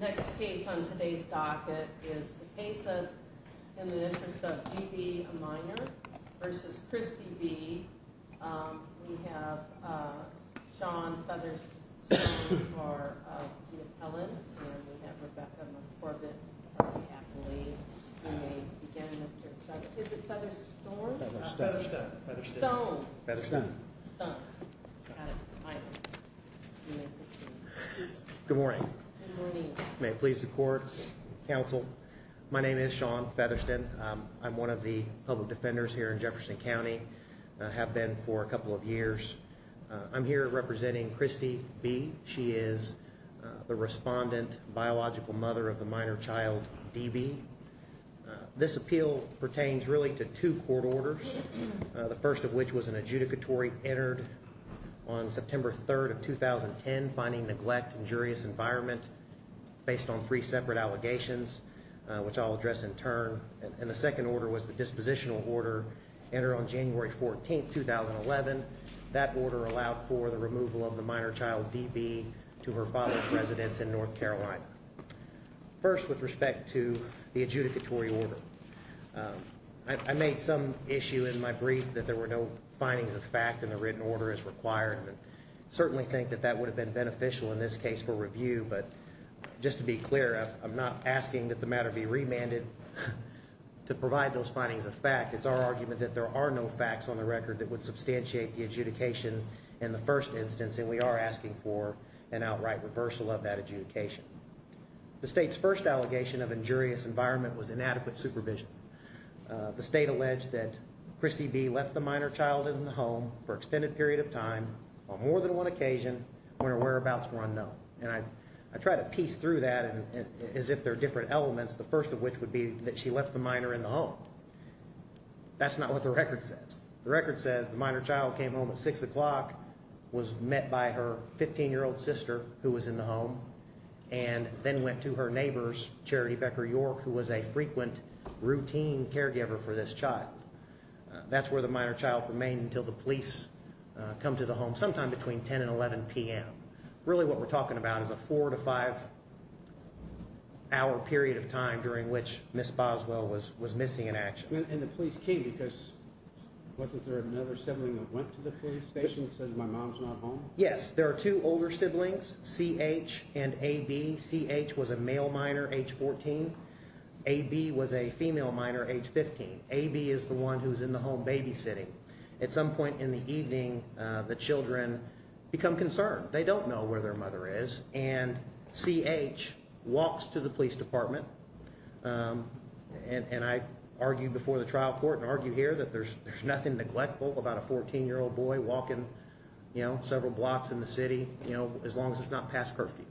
Next case on today's docket is the case of In the Interest of D.B, a Minor v. Christy B. We have Sean Featherstone, who's part of the appellant, and we have Rebecca McCorbett, who's part of the appellate. You may begin, Mr. Featherstone. Is it Featherstone? Featherstone. Featherstone. Good morning. Good morning. May it please the court. Counsel, my name is Sean Featherstone. I'm one of the public defenders here in Jefferson County, have been for a couple of years. I'm here representing Christy B. She is the respondent biological mother of the minor child D.B. This appeal pertains really to two court orders, the first of which was an adjudicatory entered on September 3rd of 2010, finding neglect injurious environment based on three separate allegations, which I'll address in turn. And the second order was the dispositional order entered on January 14th, 2011. That order allowed for the removal of the minor child D.B. to her father's residence in North Carolina. First, with respect to the adjudicatory order, I made some issue in my brief that there were no findings of fact in the written order as required. Certainly think that that would have been beneficial in this case for review. But just to be clear, I'm not asking that the matter be remanded to provide those findings of fact. It's our argument that there are no facts on the record that would substantiate the adjudication in the first instance. And we are asking for an outright reversal of that adjudication. The state's first allegation of injurious environment was inadequate supervision. The state alleged that Christy B. left the minor child in the home for extended period of time on more than one occasion when her whereabouts were unknown. And I try to piece through that as if there are different elements, the first of which would be that she left the minor in the home. That's not what the record says. The record says the minor child came home at six o'clock, was met by her 15-year-old sister who was in the home, and then went to her neighbor's, Charity Becker York, who was a frequent, routine caregiver for this child. That's where the minor child remained until the police come to the home sometime between 10 and 11 p.m. Really what we're talking about is a four to five hour period of time during which Ms. Boswell was missing in action. And the police came because wasn't there another sibling that went to the police station and said my mom's not home? Yes, there are two older siblings, C.H. and A.B. C.H. was a male minor, age 14. A.B. was a female minor, age 15. A.B. is the one who's in the home babysitting. At some point in the evening, the children become concerned. They don't know where their mother is. And C.H. walks to the police department, and I argued before the trial court and argue here that there's nothing neglectful about a 14-year-old boy walking several blocks in the city as long as it's not past curfew.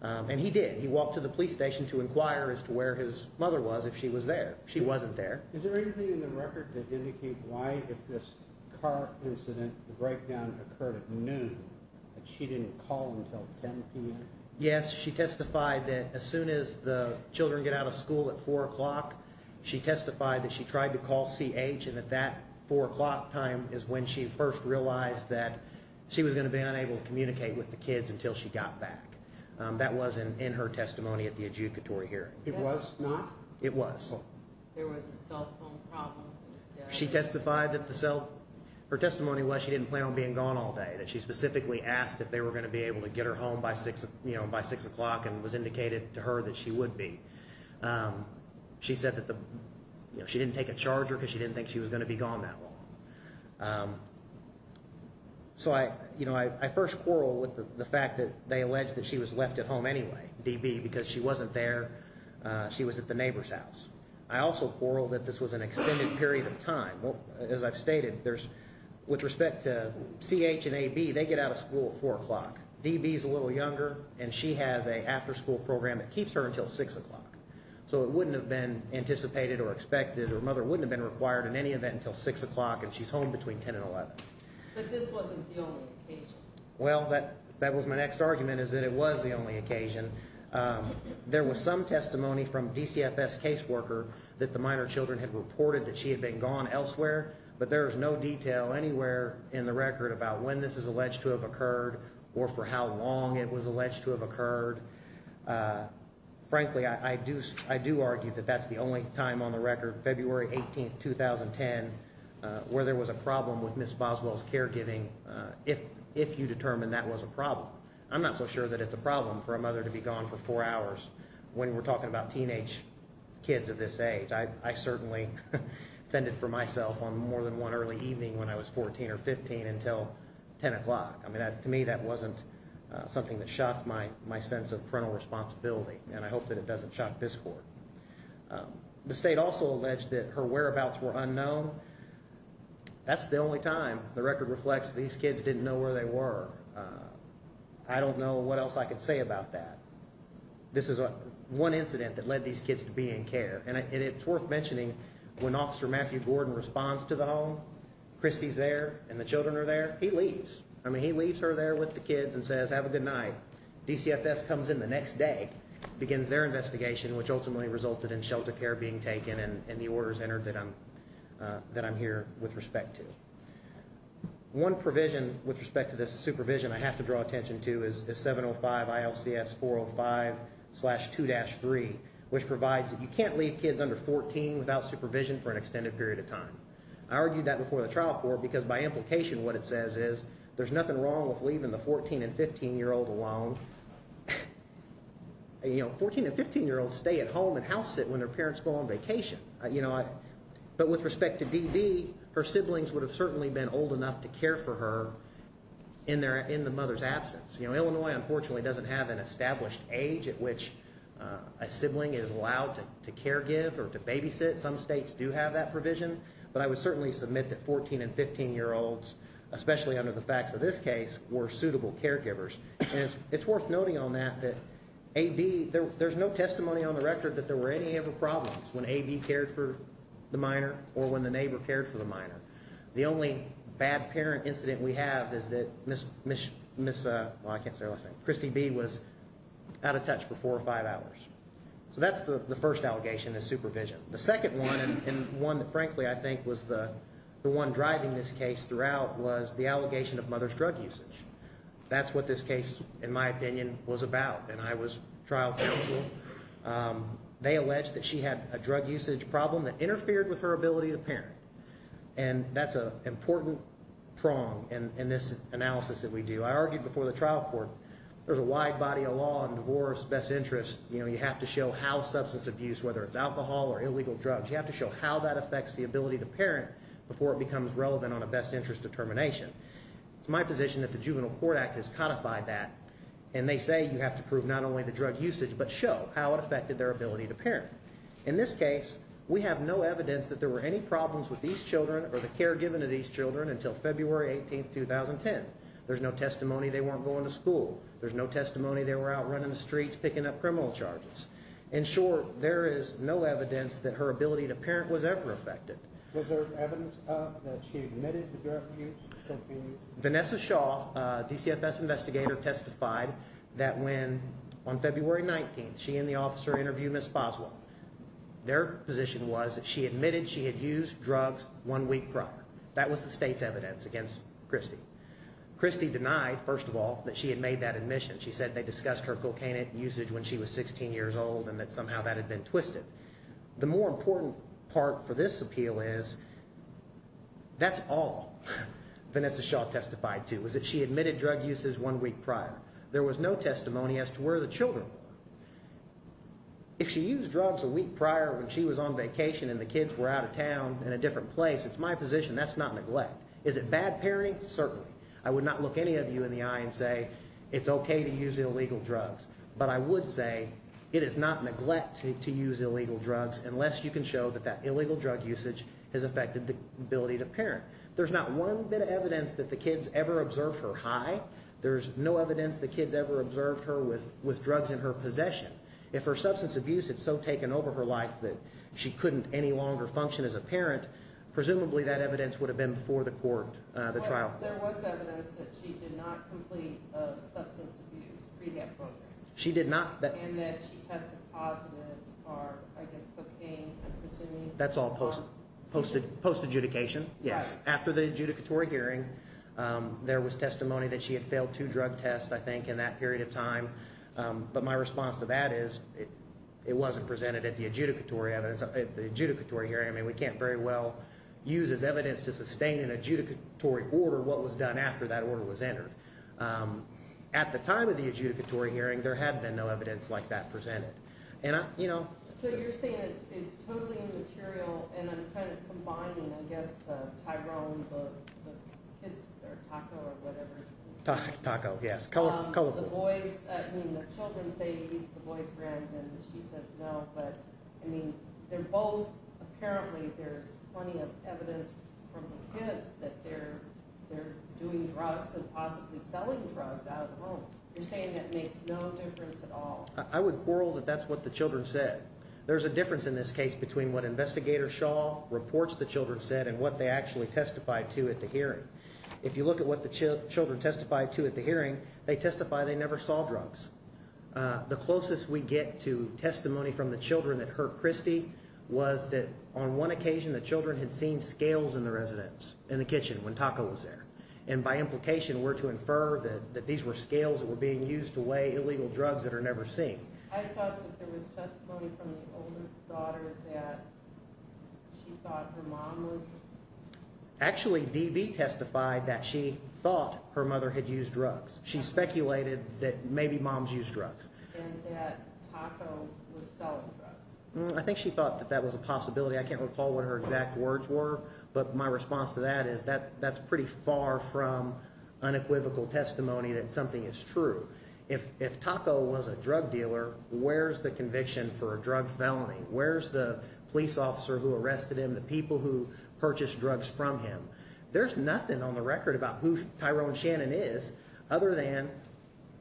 And he did. He walked to the police station to inquire as to where his mother was if she was there. She wasn't there. Is there anything in the record that indicates why if this car incident, the breakdown occurred at noon, that she didn't call until 10 p.m.? Yes, she testified that as soon as the children get out of school at 4 o'clock, she testified that she tried to call C.H. and that that 4 o'clock time is when she first realized that she was going to be unable to communicate with the kids until she got back. That was in her testimony at the adjudicatory hearing. It was not? It was. There was a cell phone problem instead? She testified that the cell – her testimony was she didn't plan on being gone all day, that she specifically asked if they were going to be able to get her home by 6 o'clock and was indicated to her that she would be. She said that the – she didn't take a charger because she didn't think she was going to be gone that long. So I first quarreled with the fact that they alleged that she was left at home anyway, D.B., because she wasn't there. She was at the neighbor's house. I also quarreled that this was an extended period of time. As I've stated, there's – with respect to C.H. and A.B., they get out of school at 4 o'clock. D.B. is a little younger, and she has an after-school program that keeps her until 6 o'clock. So it wouldn't have been anticipated or expected – her mother wouldn't have been required in any event until 6 o'clock, and she's home between 10 and 11. But this wasn't the only occasion. Well, that was my next argument, is that it was the only occasion. There was some testimony from DCFS caseworker that the minor children had reported that she had been gone elsewhere, but there is no detail anywhere in the record about when this is alleged to have occurred or for how long it was alleged to have occurred. Frankly, I do argue that that's the only time on the record, February 18, 2010, where there was a problem with Ms. Boswell's caregiving, if you determine that was a problem. I'm not so sure that it's a problem for a mother to be gone for four hours when we're talking about teenage kids of this age. I certainly fended for myself on more than one early evening when I was 14 or 15 until 10 o'clock. I mean, to me, that wasn't something that shocked my sense of parental responsibility, and I hope that it doesn't shock this court. The state also alleged that her whereabouts were unknown. That's the only time the record reflects these kids didn't know where they were. I don't know what else I could say about that. This is one incident that led these kids to be in care, and it's worth mentioning when Officer Matthew Gordon responds to the home, Christy's there and the children are there, he leaves. I mean, he leaves her there with the kids and says, have a good night. DCFS comes in the next day, begins their investigation, which ultimately resulted in shelter care being taken and the orders entered that I'm here with respect to. One provision with respect to this supervision I have to draw attention to is 705 ILCS 405-2-3, which provides that you can't leave kids under 14 without supervision for an extended period of time. I argued that before the trial court because by implication what it says is there's nothing wrong with leaving the 14- and 15-year-old alone. 14- and 15-year-olds stay at home and house-sit when their parents go on vacation. But with respect to Dee Dee, her siblings would have certainly been old enough to care for her in the mother's absence. Illinois, unfortunately, doesn't have an established age at which a sibling is allowed to care-give or to babysit. Some states do have that provision, but I would certainly submit that 14- and 15-year-olds, especially under the facts of this case, were suitable caregivers. And it's worth noting on that that there's no testimony on the record that there were any ever problems when A, B cared for the minor or when the neighbor cared for the minor. The only bad parent incident we have is that Christy B. was out of touch for four or five hours. So that's the first allegation is supervision. The second one, and one that frankly I think was the one driving this case throughout, was the allegation of mother's drug usage. That's what this case, in my opinion, was about. And I was trial counsel. They alleged that she had a drug usage problem that interfered with her ability to parent. And that's an important prong in this analysis that we do. I argued before the trial court there's a wide body of law on divorce, best interests. You have to show how substance abuse, whether it's alcohol or illegal drugs, you have to show how that affects the ability to parent before it becomes relevant on a best interest determination. It's my position that the Juvenile Court Act has codified that. And they say you have to prove not only the drug usage but show how it affected their ability to parent. In this case, we have no evidence that there were any problems with these children or the care given to these children until February 18, 2010. There's no testimony they weren't going to school. There's no testimony they were out running the streets picking up criminal charges. And, sure, there is no evidence that her ability to parent was ever affected. Was there evidence that she admitted to drug use? Vanessa Shaw, a DCFS investigator, testified that when, on February 19, she and the officer interviewed Ms. Boswell. Their position was that she admitted she had used drugs one week prior. That was the state's evidence against Christy. Christy denied, first of all, that she had made that admission. She said they discussed her cocaine usage when she was 16 years old and that somehow that had been twisted. The more important part for this appeal is that's all Vanessa Shaw testified to, was that she admitted drug uses one week prior. There was no testimony as to where the children were. If she used drugs a week prior when she was on vacation and the kids were out of town in a different place, it's my position that's not neglect. Is it bad parenting? Certainly. I would not look any of you in the eye and say it's okay to use illegal drugs. But I would say it is not neglect to use illegal drugs unless you can show that that illegal drug usage has affected the ability to parent. There's not one bit of evidence that the kids ever observed her high. There's no evidence the kids ever observed her with drugs in her possession. If her substance abuse had so taken over her life that she couldn't any longer function as a parent, presumably that evidence would have been before the court, the trial. There was evidence that she did not complete a substance abuse rehab program. She did not. And that she tested positive for, I guess, cocaine. That's all post adjudication. Yes. After the adjudicatory hearing, there was testimony that she had failed two drug tests, I think, in that period of time. But my response to that is it wasn't presented at the adjudicatory hearing. I mean we can't very well use as evidence to sustain an adjudicatory order what was done after that order was entered. At the time of the adjudicatory hearing, there had been no evidence like that presented. So you're saying it's totally immaterial and I'm kind of combining, I guess, Tyrone, the kids, or Taco, or whatever. Taco, yes. Colorful. The boys, I mean the children say he's the boyfriend and she says no. But, I mean, they're both apparently there's plenty of evidence from the kids that they're doing drugs and possibly selling drugs out of the home. You're saying that makes no difference at all. I would quarrel that that's what the children said. There's a difference in this case between what Investigator Shaw reports the children said and what they actually testified to at the hearing. If you look at what the children testified to at the hearing, they testify they never saw drugs. The closest we get to testimony from the children that hurt Christy was that on one occasion the children had seen scales in the residence, in the kitchen when Taco was there. And by implication were to infer that these were scales that were being used to weigh illegal drugs that are never seen. I thought that there was testimony from the older daughter that she thought her mom was… Actually, DB testified that she thought her mother had used drugs. She speculated that maybe moms used drugs. And that Taco was selling drugs. I think she thought that that was a possibility. I can't recall what her exact words were, but my response to that is that that's pretty far from unequivocal testimony that something is true. If Taco was a drug dealer, where's the conviction for a drug felony? Where's the police officer who arrested him, the people who purchased drugs from him? There's nothing on the record about who Tyrone Shannon is other than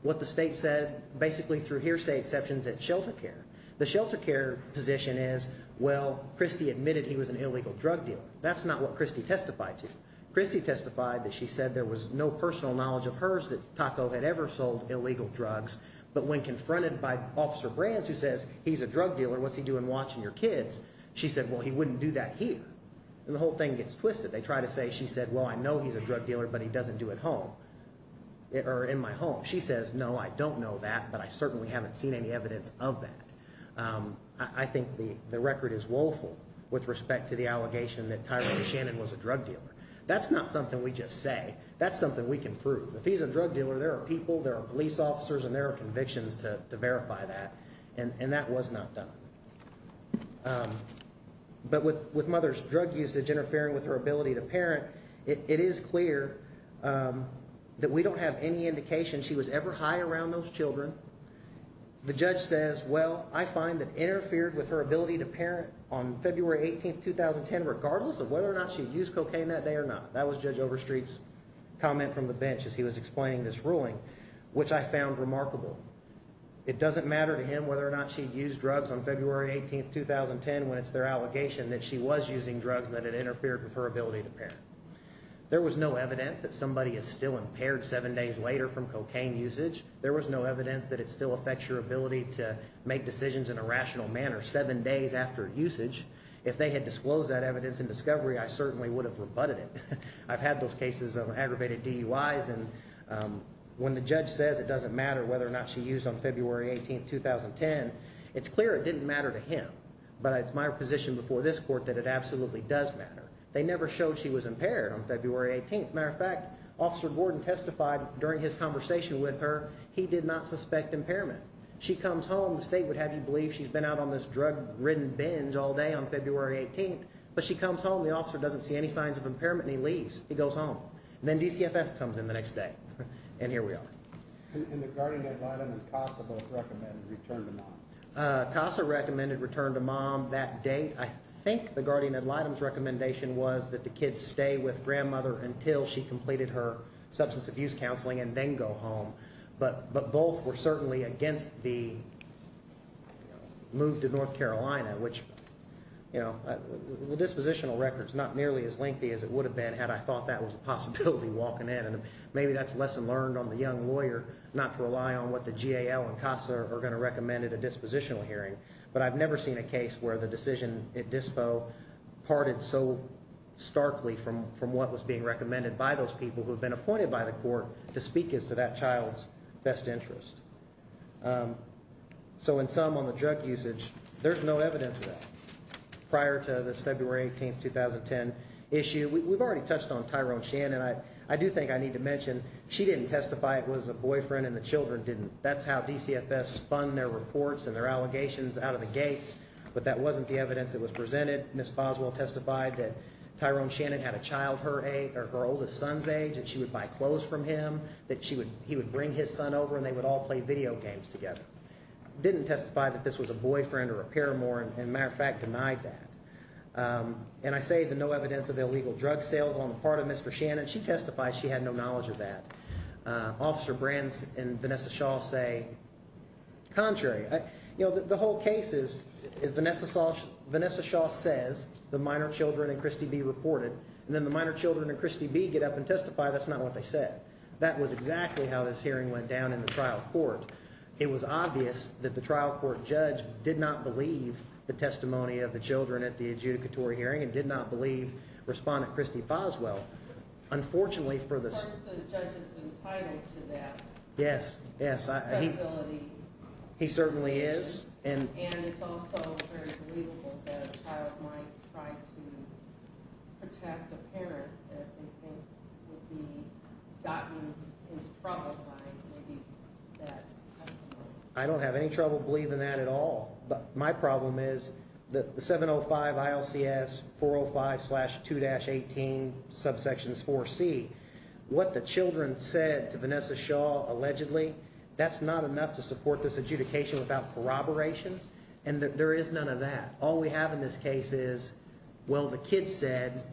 what the state said basically through hearsay exceptions at shelter care. The shelter care position is, well, Christy admitted he was an illegal drug dealer. That's not what Christy testified to. Christy testified that she said there was no personal knowledge of hers that Taco had ever sold illegal drugs. But when confronted by Officer Brands, who says he's a drug dealer, what's he doing watching your kids? She said, well, he wouldn't do that here. And the whole thing gets twisted. They try to say she said, well, I know he's a drug dealer, but he doesn't do it at home or in my home. She says, no, I don't know that, but I certainly haven't seen any evidence of that. I think the record is woeful with respect to the allegation that Tyrone Shannon was a drug dealer. That's not something we just say. That's something we can prove. If he's a drug dealer, there are people, there are police officers, and there are convictions to verify that. And that was not done. But with mother's drug usage interfering with her ability to parent, it is clear that we don't have any indication she was ever high around those children. The judge says, well, I find that interfered with her ability to parent on February 18, 2010, regardless of whether or not she used cocaine that day or not. That was Judge Overstreet's comment from the bench as he was explaining this ruling, which I found remarkable. It doesn't matter to him whether or not she used drugs on February 18, 2010, when it's their allegation that she was using drugs and that it interfered with her ability to parent. There was no evidence that somebody is still impaired seven days later from cocaine usage. There was no evidence that it still affects your ability to make decisions in a rational manner seven days after usage. If they had disclosed that evidence in discovery, I certainly would have rebutted it. I've had those cases of aggravated DUIs, and when the judge says it doesn't matter whether or not she used on February 18, 2010, it's clear it didn't matter to him. But it's my position before this court that it absolutely does matter. They never showed she was impaired on February 18. As a matter of fact, Officer Gordon testified during his conversation with her he did not suspect impairment. She comes home. The state would have you believe she's been out on this drug-ridden binge all day on February 18. But she comes home. The officer doesn't see any signs of impairment, and he leaves. He goes home. And then DCFF comes in the next day, and here we are. And the guardian ad litem and CASA both recommended return to mom. CASA recommended return to mom that day. I think the guardian ad litem's recommendation was that the kid stay with grandmother until she completed her substance abuse counseling and then go home. But both were certainly against the move to North Carolina, which, you know, the dispositional record's not nearly as lengthy as it would have been had I thought that was a possibility walking in. And maybe that's a lesson learned on the young lawyer not to rely on what the GAL and CASA are going to recommend at a dispositional hearing. But I've never seen a case where the decision at dispo parted so starkly from what was being recommended by those people who had been appointed by the court to speak as to that child's best interest. So in sum, on the drug usage, there's no evidence of that prior to this February 18, 2010 issue. We've already touched on Tyrone Shannon. I do think I need to mention she didn't testify. It was a boyfriend, and the children didn't. That's how DCFS spun their reports and their allegations out of the gates. But that wasn't the evidence that was presented. Ms. Boswell testified that Tyrone Shannon had a child her age or her oldest son's age, and she would buy clothes from him, that he would bring his son over, and they would all play video games together. Didn't testify that this was a boyfriend or a paramour, and matter of fact, denied that. And I say the no evidence of illegal drug sales on the part of Mr. Shannon. She testified she had no knowledge of that. Officer Brands and Vanessa Shaw say contrary. The whole case is Vanessa Shaw says the minor children and Christy B. reported, and then the minor children and Christy B. get up and testify that's not what they said. That was exactly how this hearing went down in the trial court. It was obvious that the trial court judge did not believe the testimony of the children at the adjudicatory hearing and did not believe Respondent Christy Boswell. Unfortunately for this. Yes. Yes. He certainly is. And I don't have any trouble believing that at all. My problem is that the 705 ILCS 405 slash 2-18 subsections 4C, what the children said to Vanessa Shaw, allegedly, that's not enough to support this adjudication without corroboration. And there is none of that. All we have in this case is, well, the kids said.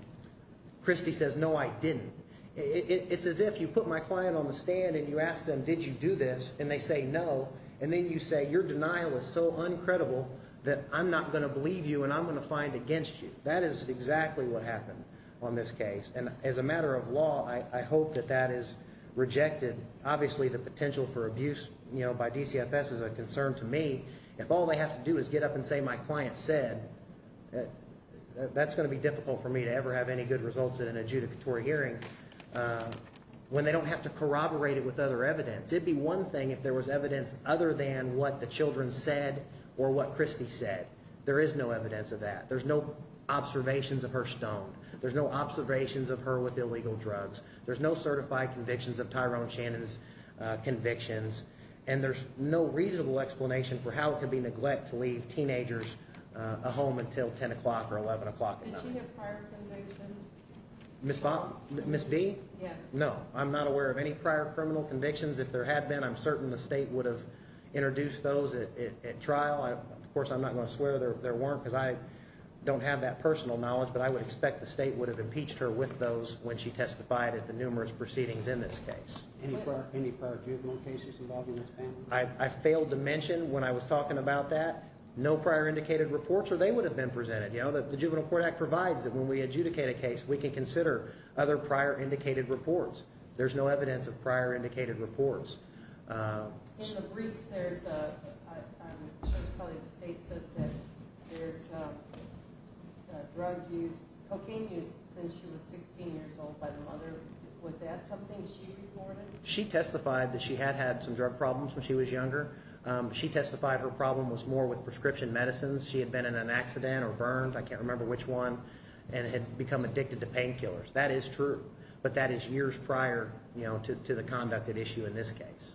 Christy says, no, I didn't. It's as if you put my client on the stand and you ask them, did you do this? And they say no. And then you say your denial is so uncredible that I'm not going to believe you and I'm going to find against you. That is exactly what happened on this case. And as a matter of law, I hope that that is rejected. Obviously, the potential for abuse by DCFS is a concern to me. If all they have to do is get up and say my client said that's going to be difficult for me to ever have any good results in an adjudicatory hearing when they don't have to corroborated with other evidence. It'd be one thing if there was evidence other than what the children said or what Christy said. There is no evidence of that. There's no observations of her stone. There's no observations of her with illegal drugs. There's no certified convictions of Tyrone Shannon's convictions. And there's no reasonable explanation for how it could be neglect to leave teenagers a home until 10 o'clock or 11 o'clock at night. Did she have prior convictions? Ms. B? No. I'm not aware of any prior criminal convictions. If there had been, I'm certain the state would have introduced those at trial. Of course, I'm not going to swear there weren't because I don't have that personal knowledge. But I would expect the state would have impeached her with those when she testified at the numerous proceedings in this case. Any prior juvenile cases involving this family? I failed to mention when I was talking about that no prior indicated reports or they would have been presented. The Juvenile Court Act provides that when we adjudicate a case, we can consider other prior indicated reports. There's no evidence of prior indicated reports. In the briefs, there's probably the state says that there's drug use, cocaine use since she was 16 years old by the mother. Was that something she reported? She testified that she had had some drug problems when she was younger. She testified her problem was more with prescription medicines. She had been in an accident or burned, I can't remember which one, and had become addicted to painkillers. That is true, but that is years prior to the conduct at issue in this case.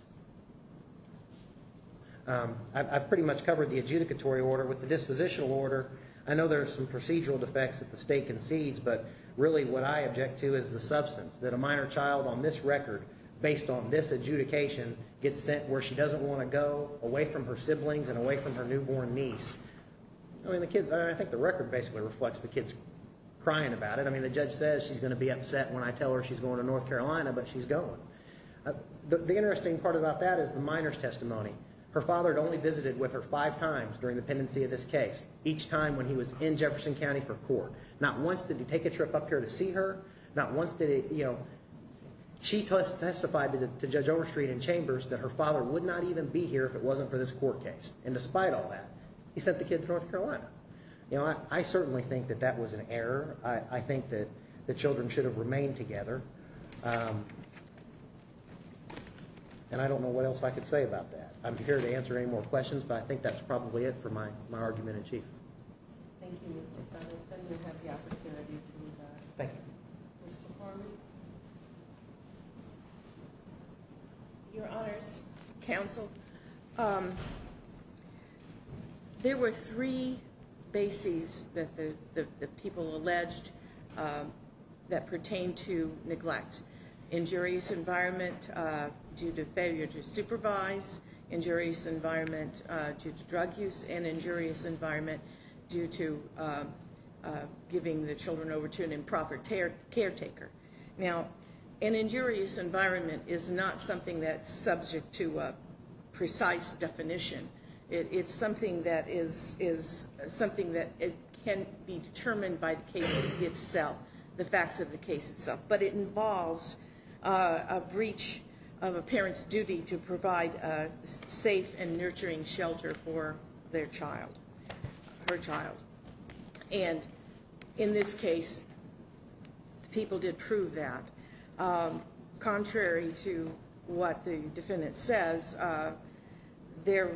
I've pretty much covered the adjudicatory order. With the dispositional order, I know there are some procedural defects that the state concedes, but really what I object to is the substance that a minor child on this record, based on this adjudication, gets sent where she doesn't want to go, away from her siblings and away from her newborn niece. I think the record basically reflects the kid's crying about it. The judge says she's going to be upset when I tell her she's going to North Carolina, but she's going. The interesting part about that is the minor's testimony. Her father had only visited with her five times during the pendency of this case, each time when he was in Jefferson County for court. Not once did he take a trip up here to see her. She testified to Judge Overstreet in Chambers that her father would not even be here if it wasn't for this court case, and despite all that, he sent the kid to North Carolina. I certainly think that that was an error. I think that the children should have remained together, and I don't know what else I could say about that. I'm here to answer any more questions, but I think that's probably it for my argument in chief. Thank you, Mr. Fetleson. You have the opportunity to move on. Thank you. Mr. Harmon? Your Honors, Counsel, there were three bases that the people alleged that pertain to neglect. Injurious environment due to failure to supervise, injurious environment due to drug use, and injurious environment due to giving the children over to an improper caretaker. Now, an injurious environment is not something that's subject to a precise definition. It's something that can be determined by the case itself, the facts of the case itself. But it involves a breach of a parent's duty to provide a safe and nurturing shelter for their child, her child. And in this case, the people did prove that. Contrary to what the defendant says, there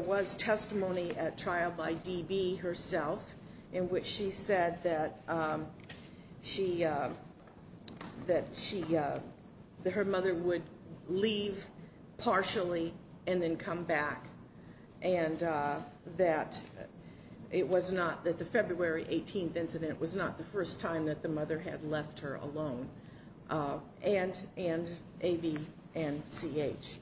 was testimony at trial by D.B. herself, in which she said that her mother would leave partially and then come back, and that the February 18th incident was not the first time that the mother had left her alone. And A.B. and C.H.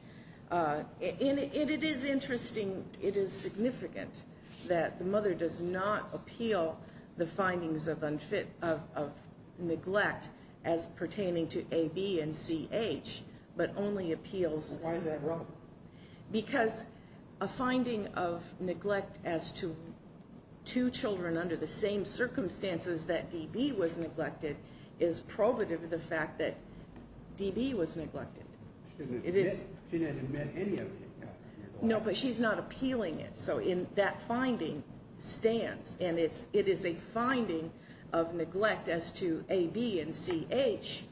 And it is interesting, it is significant that the mother does not appeal the findings of neglect as pertaining to A.B. and C.H., but only appeals... Why is that wrong? Because a finding of neglect as to two children under the same circumstances that D.B. was neglected is probative of the fact that D.B. was neglected. She didn't admit any of it. No, but she's not appealing it. So that finding stands, and it is a finding of neglect as to A.B. and C.H.,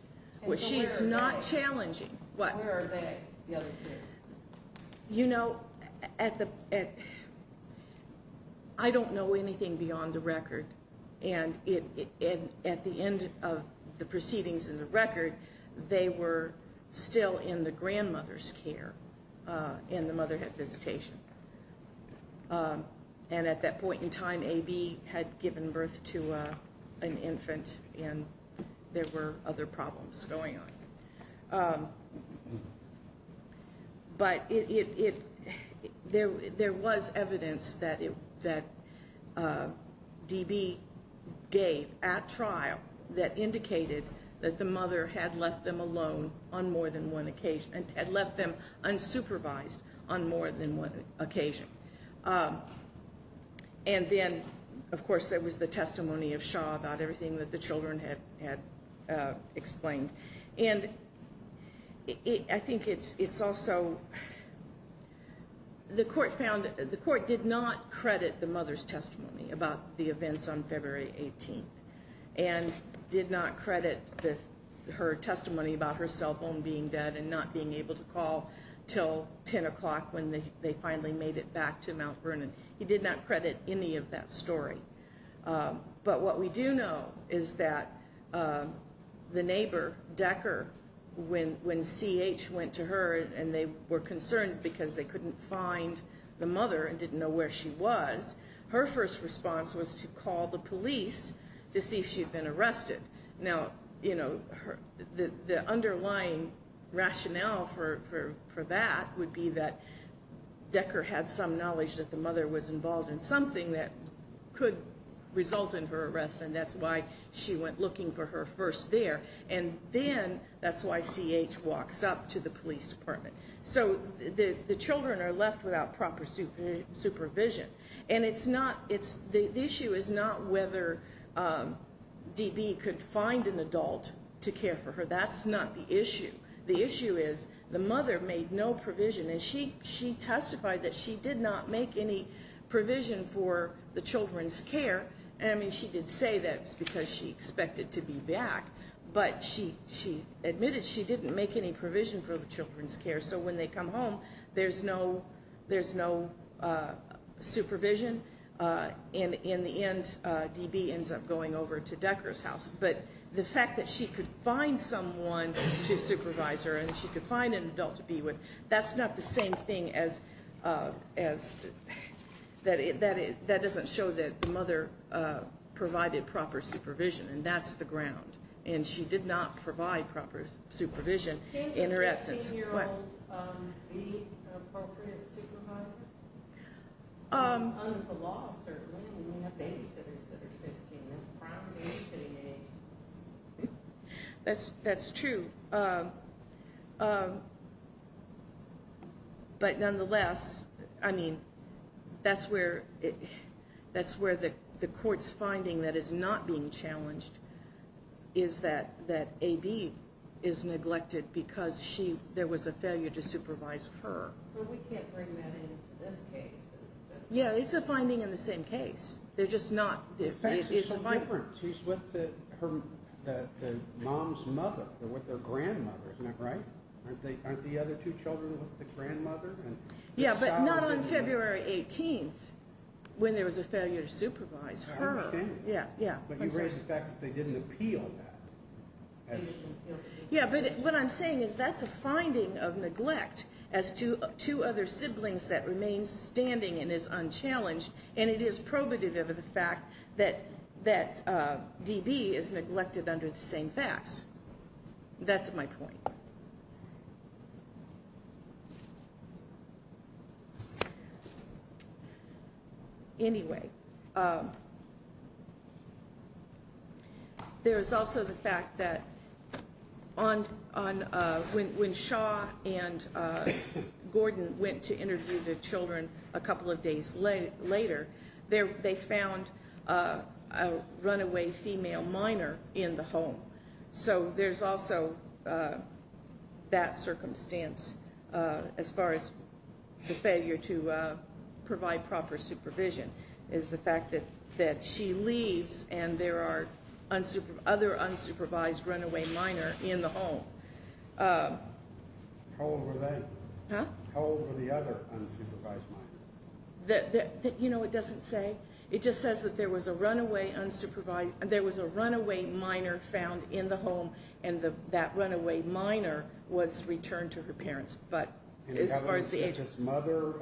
which she's not challenging. Where are they, the other two? You know, I don't know anything beyond the record, and at the end of the proceedings in the record, they were still in the grandmother's care, and the mother had visitation. And at that point in time, A.B. had given birth to an infant, and there were other problems going on. But there was evidence that D.B. gave at trial that indicated that the mother had left them alone on more than one occasion, had left them unsupervised on more than one occasion. And then, of course, there was the testimony of Shaw about everything that the children had explained. And I think it's also... The court did not credit the mother's testimony about the events on February 18th and did not credit her testimony about her cell phone being dead and not being able to call until 10 o'clock when they finally made it back to Mount Vernon. It did not credit any of that story. But what we do know is that the neighbor, Decker, when C.H. went to her and they were concerned because they couldn't find the mother and didn't know where she was, her first response was to call the police to see if she had been arrested. Now, you know, the underlying rationale for that would be that Decker had some knowledge that the mother was involved in something that could result in her arrest, and that's why she went looking for her first there. And then that's why C.H. walks up to the police department. So the children are left without proper supervision. And the issue is not whether D.B. could find an adult to care for her. That's not the issue. The issue is the mother made no provision, and she testified that she did not make any provision for the children's care. I mean, she did say that it was because she expected to be back, but she admitted she didn't make any provision for the children's care. So when they come home, there's no supervision. And in the end, D.B. ends up going over to Decker's house. But the fact that she could find someone to supervise her and she could find an adult to be with, that's not the same thing as that doesn't show that the mother provided proper supervision, and that's the ground. And she did not provide proper supervision in her absence. Can't a 15-year-old be an appropriate supervisor? Under the law, certainly, we may have babysitters that are 15. That's probably a fitting age. That's true. But nonetheless, I mean, that's where the court's finding that is not being challenged is that A.B. is neglected because there was a failure to supervise her. But we can't bring that into this case. Yeah, it's a finding in the same case. The facts are so different. She's with her mom's mother. They're with their grandmother. Isn't that right? Aren't the other two children with the grandmother? Yeah, but not on February 18th when there was a failure to supervise her. I understand that. But you raise the fact that they didn't appeal that. Yeah, but what I'm saying is that's a finding of neglect as to two other siblings that remain standing and is unchallenged, and it is probative of the fact that D.B. is neglected under the same facts. That's my point. Anyway, there is also the fact that when Shaw and Gordon went to interview the children a couple of days later, they found a runaway female minor in the home. So there's also that circumstance as far as the failure to provide proper supervision is the fact that she leaves and there are other unsupervised runaway minors in the home. How old were they? Huh? How old were the other unsupervised minors? You know what it doesn't say? It just says that there was a runaway minor found in the home, and that runaway minor was returned to her parents. But as far as the age… And did this mother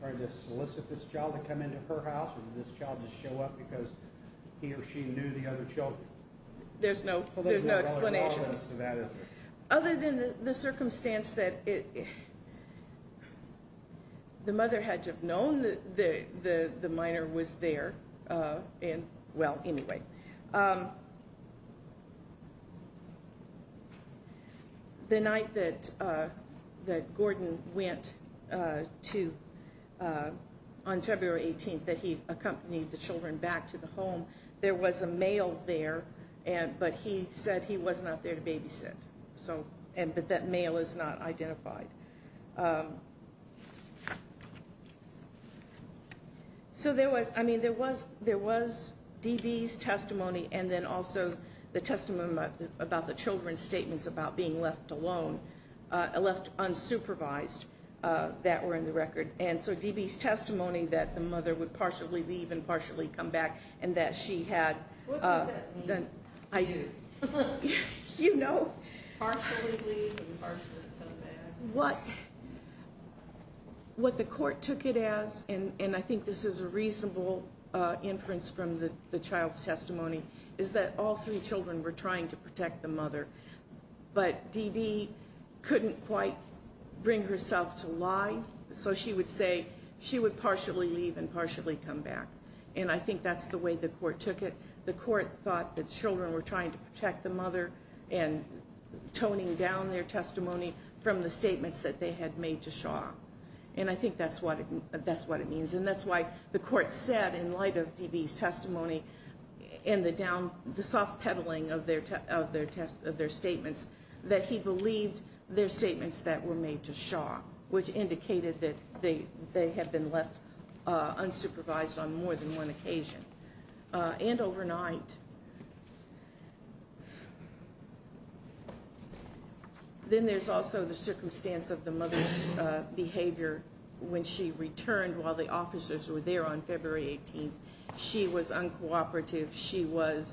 try to solicit this child to come into her house, or did this child just show up because he or she knew the other children? There's no explanation. So there's no relevant evidence to that, is there? Other than the circumstance that the mother had to have known that the minor was there. Well, anyway, the night that Gordon went on February 18th, that he accompanied the children back to the home, there was a male there, but he said he was not there to babysit. But that male is not identified. So there was DB's testimony and then also the testimony about the children's statements about being left alone, left unsupervised, that were in the record. And so DB's testimony that the mother would partially leave and partially come back and that she had… What does that mean to you? You know. Partially leave and partially come back. What the court took it as, and I think this is a reasonable inference from the child's testimony, is that all three children were trying to protect the mother. But DB couldn't quite bring herself to lie, so she would say she would partially leave and partially come back. And I think that's the way the court took it. The court thought the children were trying to protect the mother and toning down their testimony from the statements that they had made to Shaw. And I think that's what it means. And that's why the court said, in light of DB's testimony and the soft peddling of their statements, that he believed their statements that were made to Shaw, which indicated that they had been left unsupervised on more than one occasion. And overnight. Then there's also the circumstance of the mother's behavior when she returned while the officers were there on February 18th. She was uncooperative. She would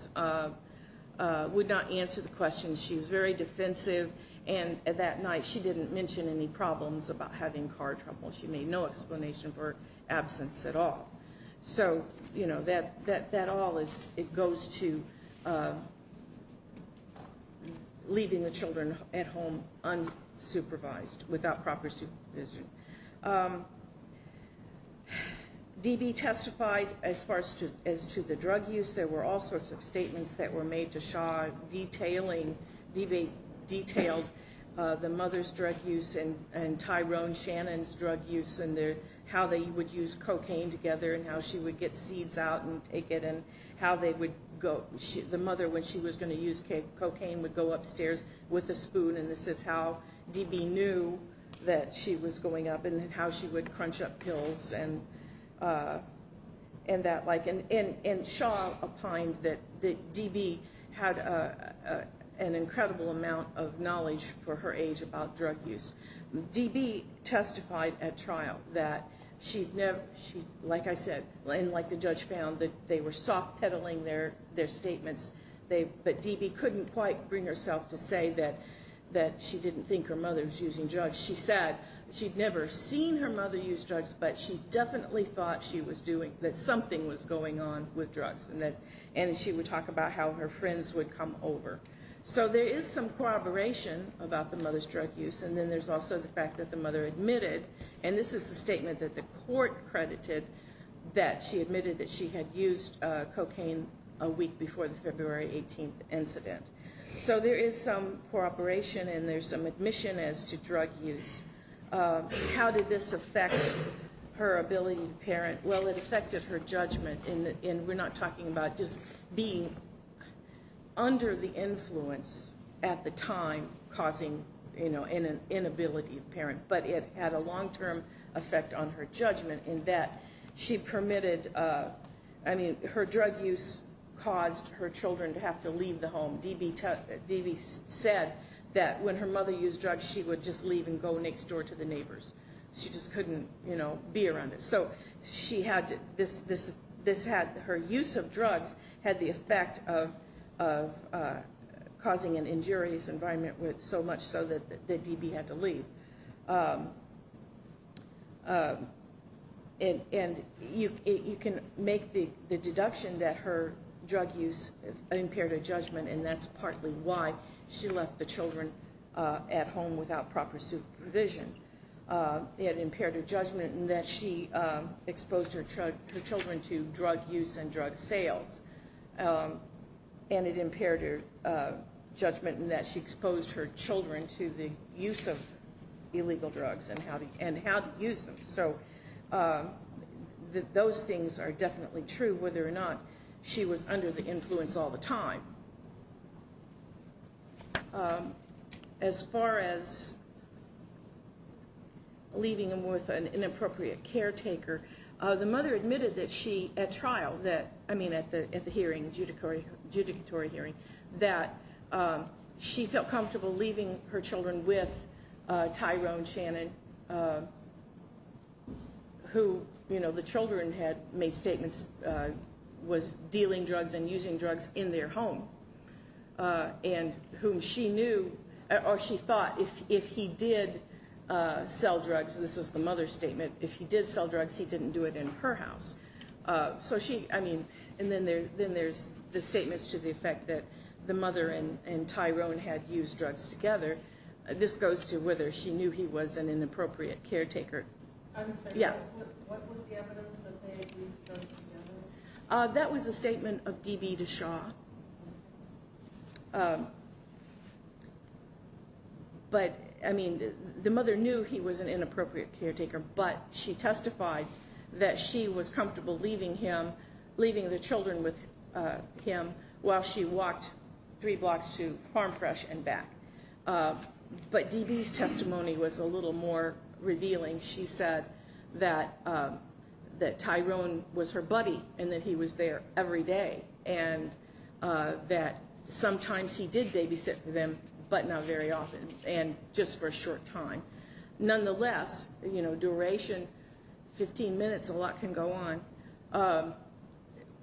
not answer the questions. She was very defensive. And that night she didn't mention any problems about having car trouble. She made no explanation for her absence at all. So, you know, that all goes to leaving the children at home unsupervised, without proper supervision. DB testified as far as to the drug use. There were all sorts of statements that were made to Shaw detailing, DB detailed the mother's drug use and Tyrone Shannon's drug use and how they would use cocaine together and how she would get seeds out and take it and how the mother, when she was going to use cocaine, would go upstairs with a spoon. And this is how DB knew that she was going up and how she would crunch up pills. And Shaw opined that DB had an incredible amount of knowledge for her age about drug use. DB testified at trial that she'd never, like I said, and like the judge found, that they were soft peddling their statements. But DB couldn't quite bring herself to say that she didn't think her mother was using drugs. She said she'd never seen her mother use drugs, but she definitely thought she was doing, that something was going on with drugs and that she would talk about how her friends would come over. So there is some corroboration about the mother's drug use and then there's also the fact that the mother admitted, and this is the statement that the court credited, a week before the February 18th incident. So there is some corroboration and there's some admission as to drug use. How did this affect her ability to parent? Well, it affected her judgment, and we're not talking about just being under the influence at the time, causing an inability of parent, but it had a long-term effect on her judgment in that she permitted, I mean, her drug use caused her children to have to leave the home. D.B. said that when her mother used drugs, she would just leave and go next door to the neighbors. She just couldn't be around it. So her use of drugs had the effect of causing an injurious environment so much so that D.B. had to leave. And you can make the deduction that her drug use impaired her judgment and that's partly why she left the children at home without proper supervision. It impaired her judgment in that she exposed her children to drug use and drug sales. And it impaired her judgment in that she exposed her children to the use of illegal drugs and how to use them. So those things are definitely true, whether or not she was under the influence all the time. As far as leaving them with an inappropriate caretaker, the mother admitted that she, at trial, I mean at the hearing, judicatory hearing, that she felt comfortable leaving her children with Tyrone Shannon, who, you know, the children had made statements, was dealing drugs and using drugs in their home. And whom she knew, or she thought, if he did sell drugs, this is the mother's statement, if he did sell drugs, he didn't do it in her house. So she, I mean, and then there's the statements to the effect that the mother and Tyrone had used drugs together. This goes to whether she knew he was an inappropriate caretaker. Yeah? What was the evidence that they had used drugs together? That was the statement of D.B. DeShaw. But, I mean, the mother knew he was an inappropriate caretaker, but she testified that she was comfortable leaving him, leaving the children with him, while she walked three blocks to Farm Fresh and back. But D.B.'s testimony was a little more revealing. She said that Tyrone was her buddy and that he was there every day and that sometimes he did babysit for them, but not very often, and just for a short time. Nonetheless, you know, duration, 15 minutes, a lot can go on.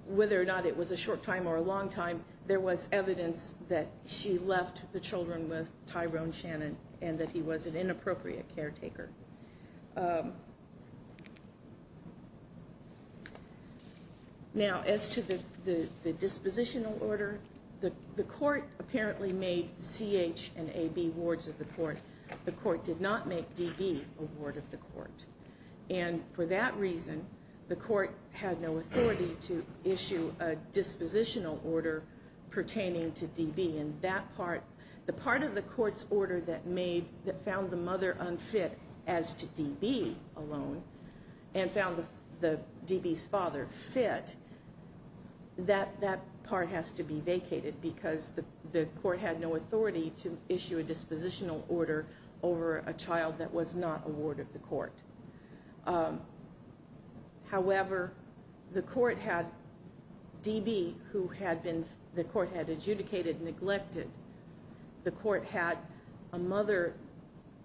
Whether or not it was a short time or a long time, there was evidence that she left the children with Tyrone Shannon and that he was an inappropriate caretaker. Now, as to the dispositional order, the court apparently made C.H. and A.B. wards of the court. The court did not make D.B. a ward of the court. And for that reason, the court had no authority to issue a dispositional order pertaining to D.B. And that part, the part of the court's order that made, that found the mother unfit as to D.B. alone and found D.B.'s father fit, that part has to be vacated because the court had no authority to issue a dispositional order over a child that was not a ward of the court. However, the court had D.B., who the court had adjudicated, neglected. The court had a mother,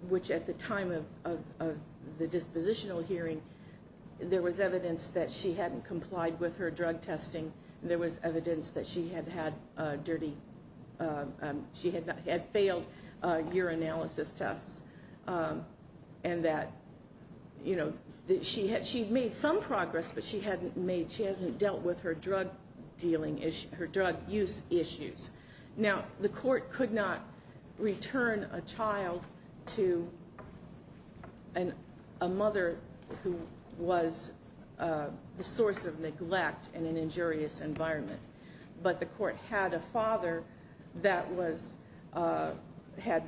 which at the time of the dispositional hearing, there was evidence that she hadn't complied with her drug testing. There was evidence that she had had dirty, she had failed urinalysis tests and that, you know, she had made some progress, but she hadn't made, she hasn't dealt with her drug dealing, her drug use issues. Now, the court could not return a child to a mother who was the source of neglect in an injurious environment. But the court had a father that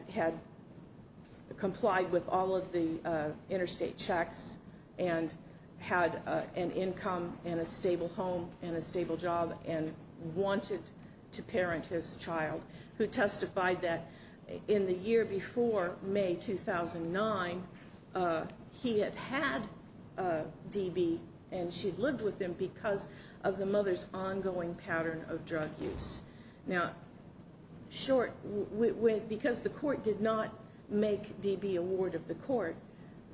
had complied with all of the interstate checks and had an income and a stable home and a stable job and wanted to parent his child, who testified that in the year before, May 2009, he had had D.B. and she'd lived with him because of the mother's ongoing pattern of drug use. Now, short, because the court did not make D.B. a ward of the court,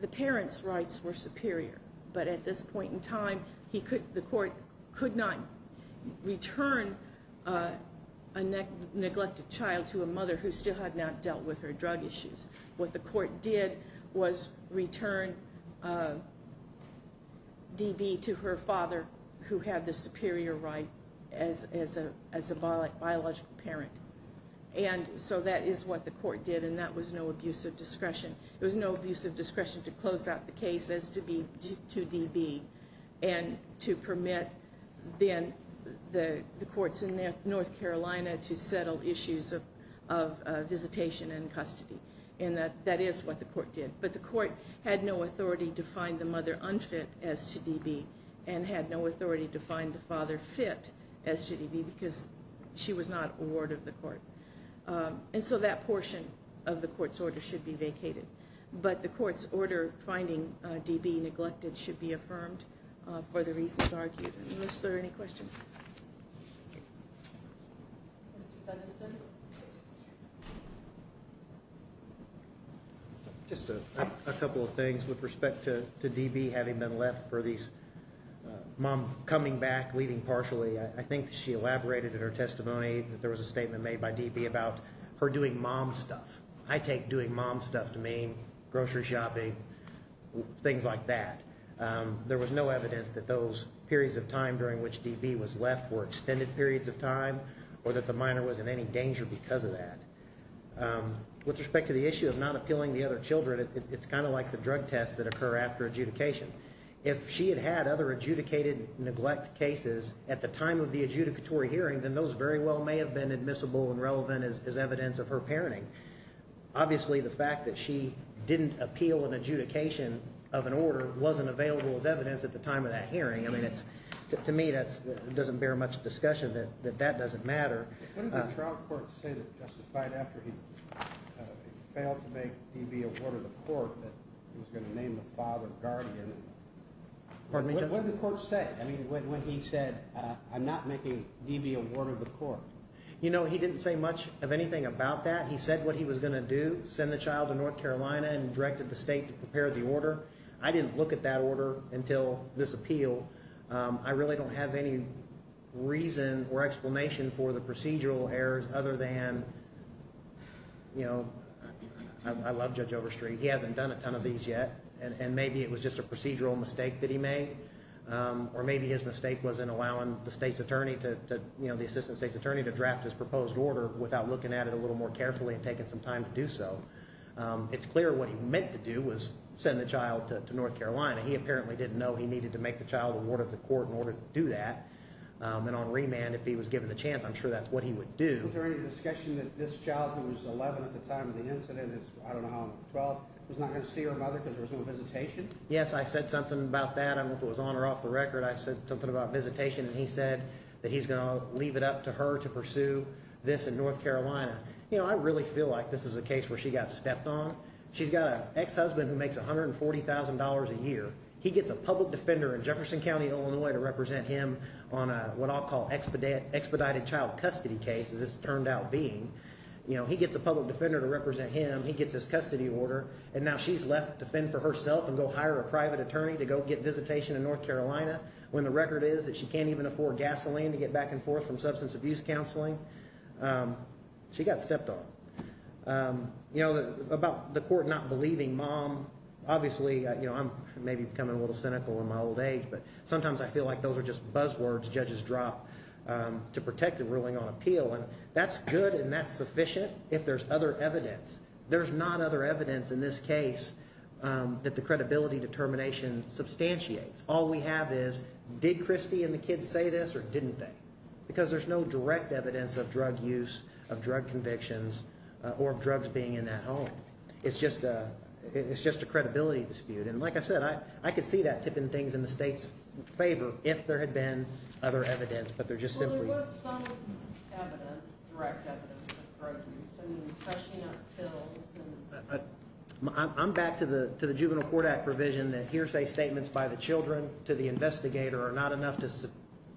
the parent's rights were superior. But at this point in time, the court could not return a neglected child to a mother who still had not dealt with her drug issues. What the court did was return D.B. to her father, who had the superior right as a biological parent. And so that is what the court did, and that was no abuse of discretion. It was no abuse of discretion to close out the case as to D.B. and to permit then the courts in North Carolina to settle issues of visitation and custody. And that is what the court did. But the court had no authority to find the mother unfit as to D.B. and had no authority to find the father fit as to D.B. because she was not a ward of the court. And so that portion of the court's order should be vacated. But the court's order finding D.B. neglected should be affirmed for the reasons argued. Unless there are any questions. Just a couple of things with respect to D.B. having been left for these mom coming back, leaving partially. I think she elaborated in her testimony that there was a statement made by D.B. about her doing mom stuff. I take doing mom stuff to mean grocery shopping, things like that. There was no evidence that those periods of time during which D.B. was left were extended periods of time or that the minor was in any danger because of that. With respect to the issue of not appealing the other children, it's kind of like the drug tests that occur after adjudication. If she had had other adjudicated neglect cases at the time of the adjudicatory as evidence of her parenting. Obviously the fact that she didn't appeal an adjudication of an order wasn't available as evidence at the time of that hearing. To me that doesn't bear much discussion that that doesn't matter. What did the trial court say that justified after he failed to make D.B. a ward of the court that he was going to name the father guardian? What did the court say when he said I'm not making D.B. a ward of the court? He didn't say much of anything about that. He said what he was going to do, send the child to North Carolina and directed the state to prepare the order. I didn't look at that order until this appeal. I really don't have any reason or explanation for the procedural errors other than I love Judge Overstreet. He hasn't done a ton of these yet. Maybe it was just a procedural mistake that he made or maybe his mistake was in allowing the assistant state's attorney to draft his proposed order without looking at it a little more carefully and taking some time to do so. It's clear what he meant to do was send the child to North Carolina. He apparently didn't know he needed to make the child a ward of the court in order to do that. On remand, if he was given the chance, I'm sure that's what he would do. Was there any discussion that this child, who was 11 at the time of the incident, I don't know how old, 12, was not going to see her mother because there was no visitation? Yes, I said something about that. I don't know if it was on or off the record. I said something about visitation, and he said that he's going to leave it up to her to pursue this in North Carolina. I really feel like this is a case where she got stepped on. She's got an ex-husband who makes $140,000 a year. He gets a public defender in Jefferson County, Illinois, to represent him on what I'll call expedited child custody case, as it's turned out being. He gets a public defender to represent him. He gets his custody order, and now she's left to fend for herself and go hire a private attorney to go get visitation in North Carolina when the record is that she can't even afford gasoline to get back and forth from substance abuse counseling. She got stepped on. About the court not believing mom, obviously I'm maybe becoming a little cynical in my old age, but sometimes I feel like those are just buzzwords judges drop to protect the ruling on appeal. That's good and that's sufficient if there's other evidence. There's not other evidence in this case that the credibility determination substantiates. All we have is did Christy and the kids say this or didn't they? Because there's no direct evidence of drug use, of drug convictions, or of drugs being in that home. It's just a credibility dispute. Like I said, I could see that tipping things in the state's favor if there had been other evidence, but there just simply wasn't. What's some evidence, direct evidence of drug use? I mean, cushioning up pills? I'm back to the Juvenile Court Act provision that hearsay statements by the children to the investigator are not enough to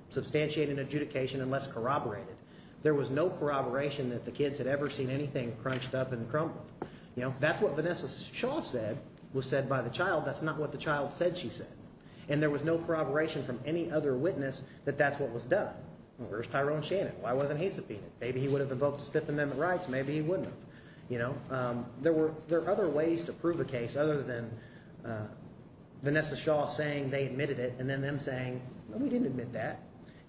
substantiate an adjudication unless corroborated. There was no corroboration that the kids had ever seen anything crunched up and crumbled. That's what Vanessa Shaw said was said by the child. That's not what the child said she said. And there was no corroboration from any other witness that that's what was done. Where's Tyrone Shannon? Why wasn't he subpoenaed? Maybe he would have evoked his Fifth Amendment rights. Maybe he wouldn't have. There are other ways to prove a case other than Vanessa Shaw saying they admitted it and then them saying, no, we didn't admit that.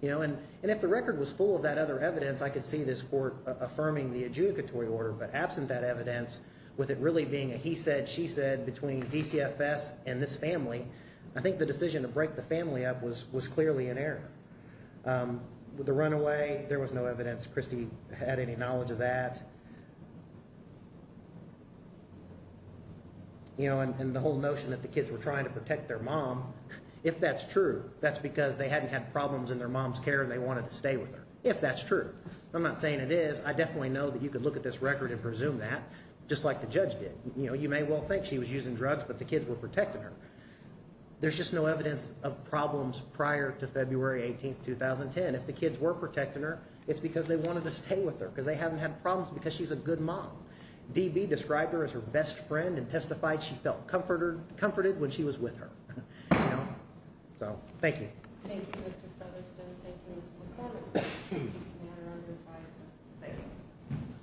And if the record was full of that other evidence, I could see this court affirming the adjudicatory order, but absent that evidence with it really being a he said, she said between DCFS and this family, I think the decision to break the family up was clearly in error. With the runaway, there was no evidence Christie had any knowledge of that. And the whole notion that the kids were trying to protect their mom, if that's true, that's because they hadn't had problems in their mom's care and they wanted to stay with her, if that's true. I'm not saying it is. I definitely know that you could look at this record and presume that, just like the judge did. You know, you may well think she was using drugs, but the kids were protecting her. There's just no evidence of problems prior to February 18th, 2010. If the kids were protecting her, it's because they wanted to stay with her because they haven't had problems because she's a good mom. DB described her as her best friend and testified she felt comforted when she was with her. So, thank you. Thank you, Mr. Featherstone. Thank you, Mr. McCormick. Thank you for your manner of advising. Thank you.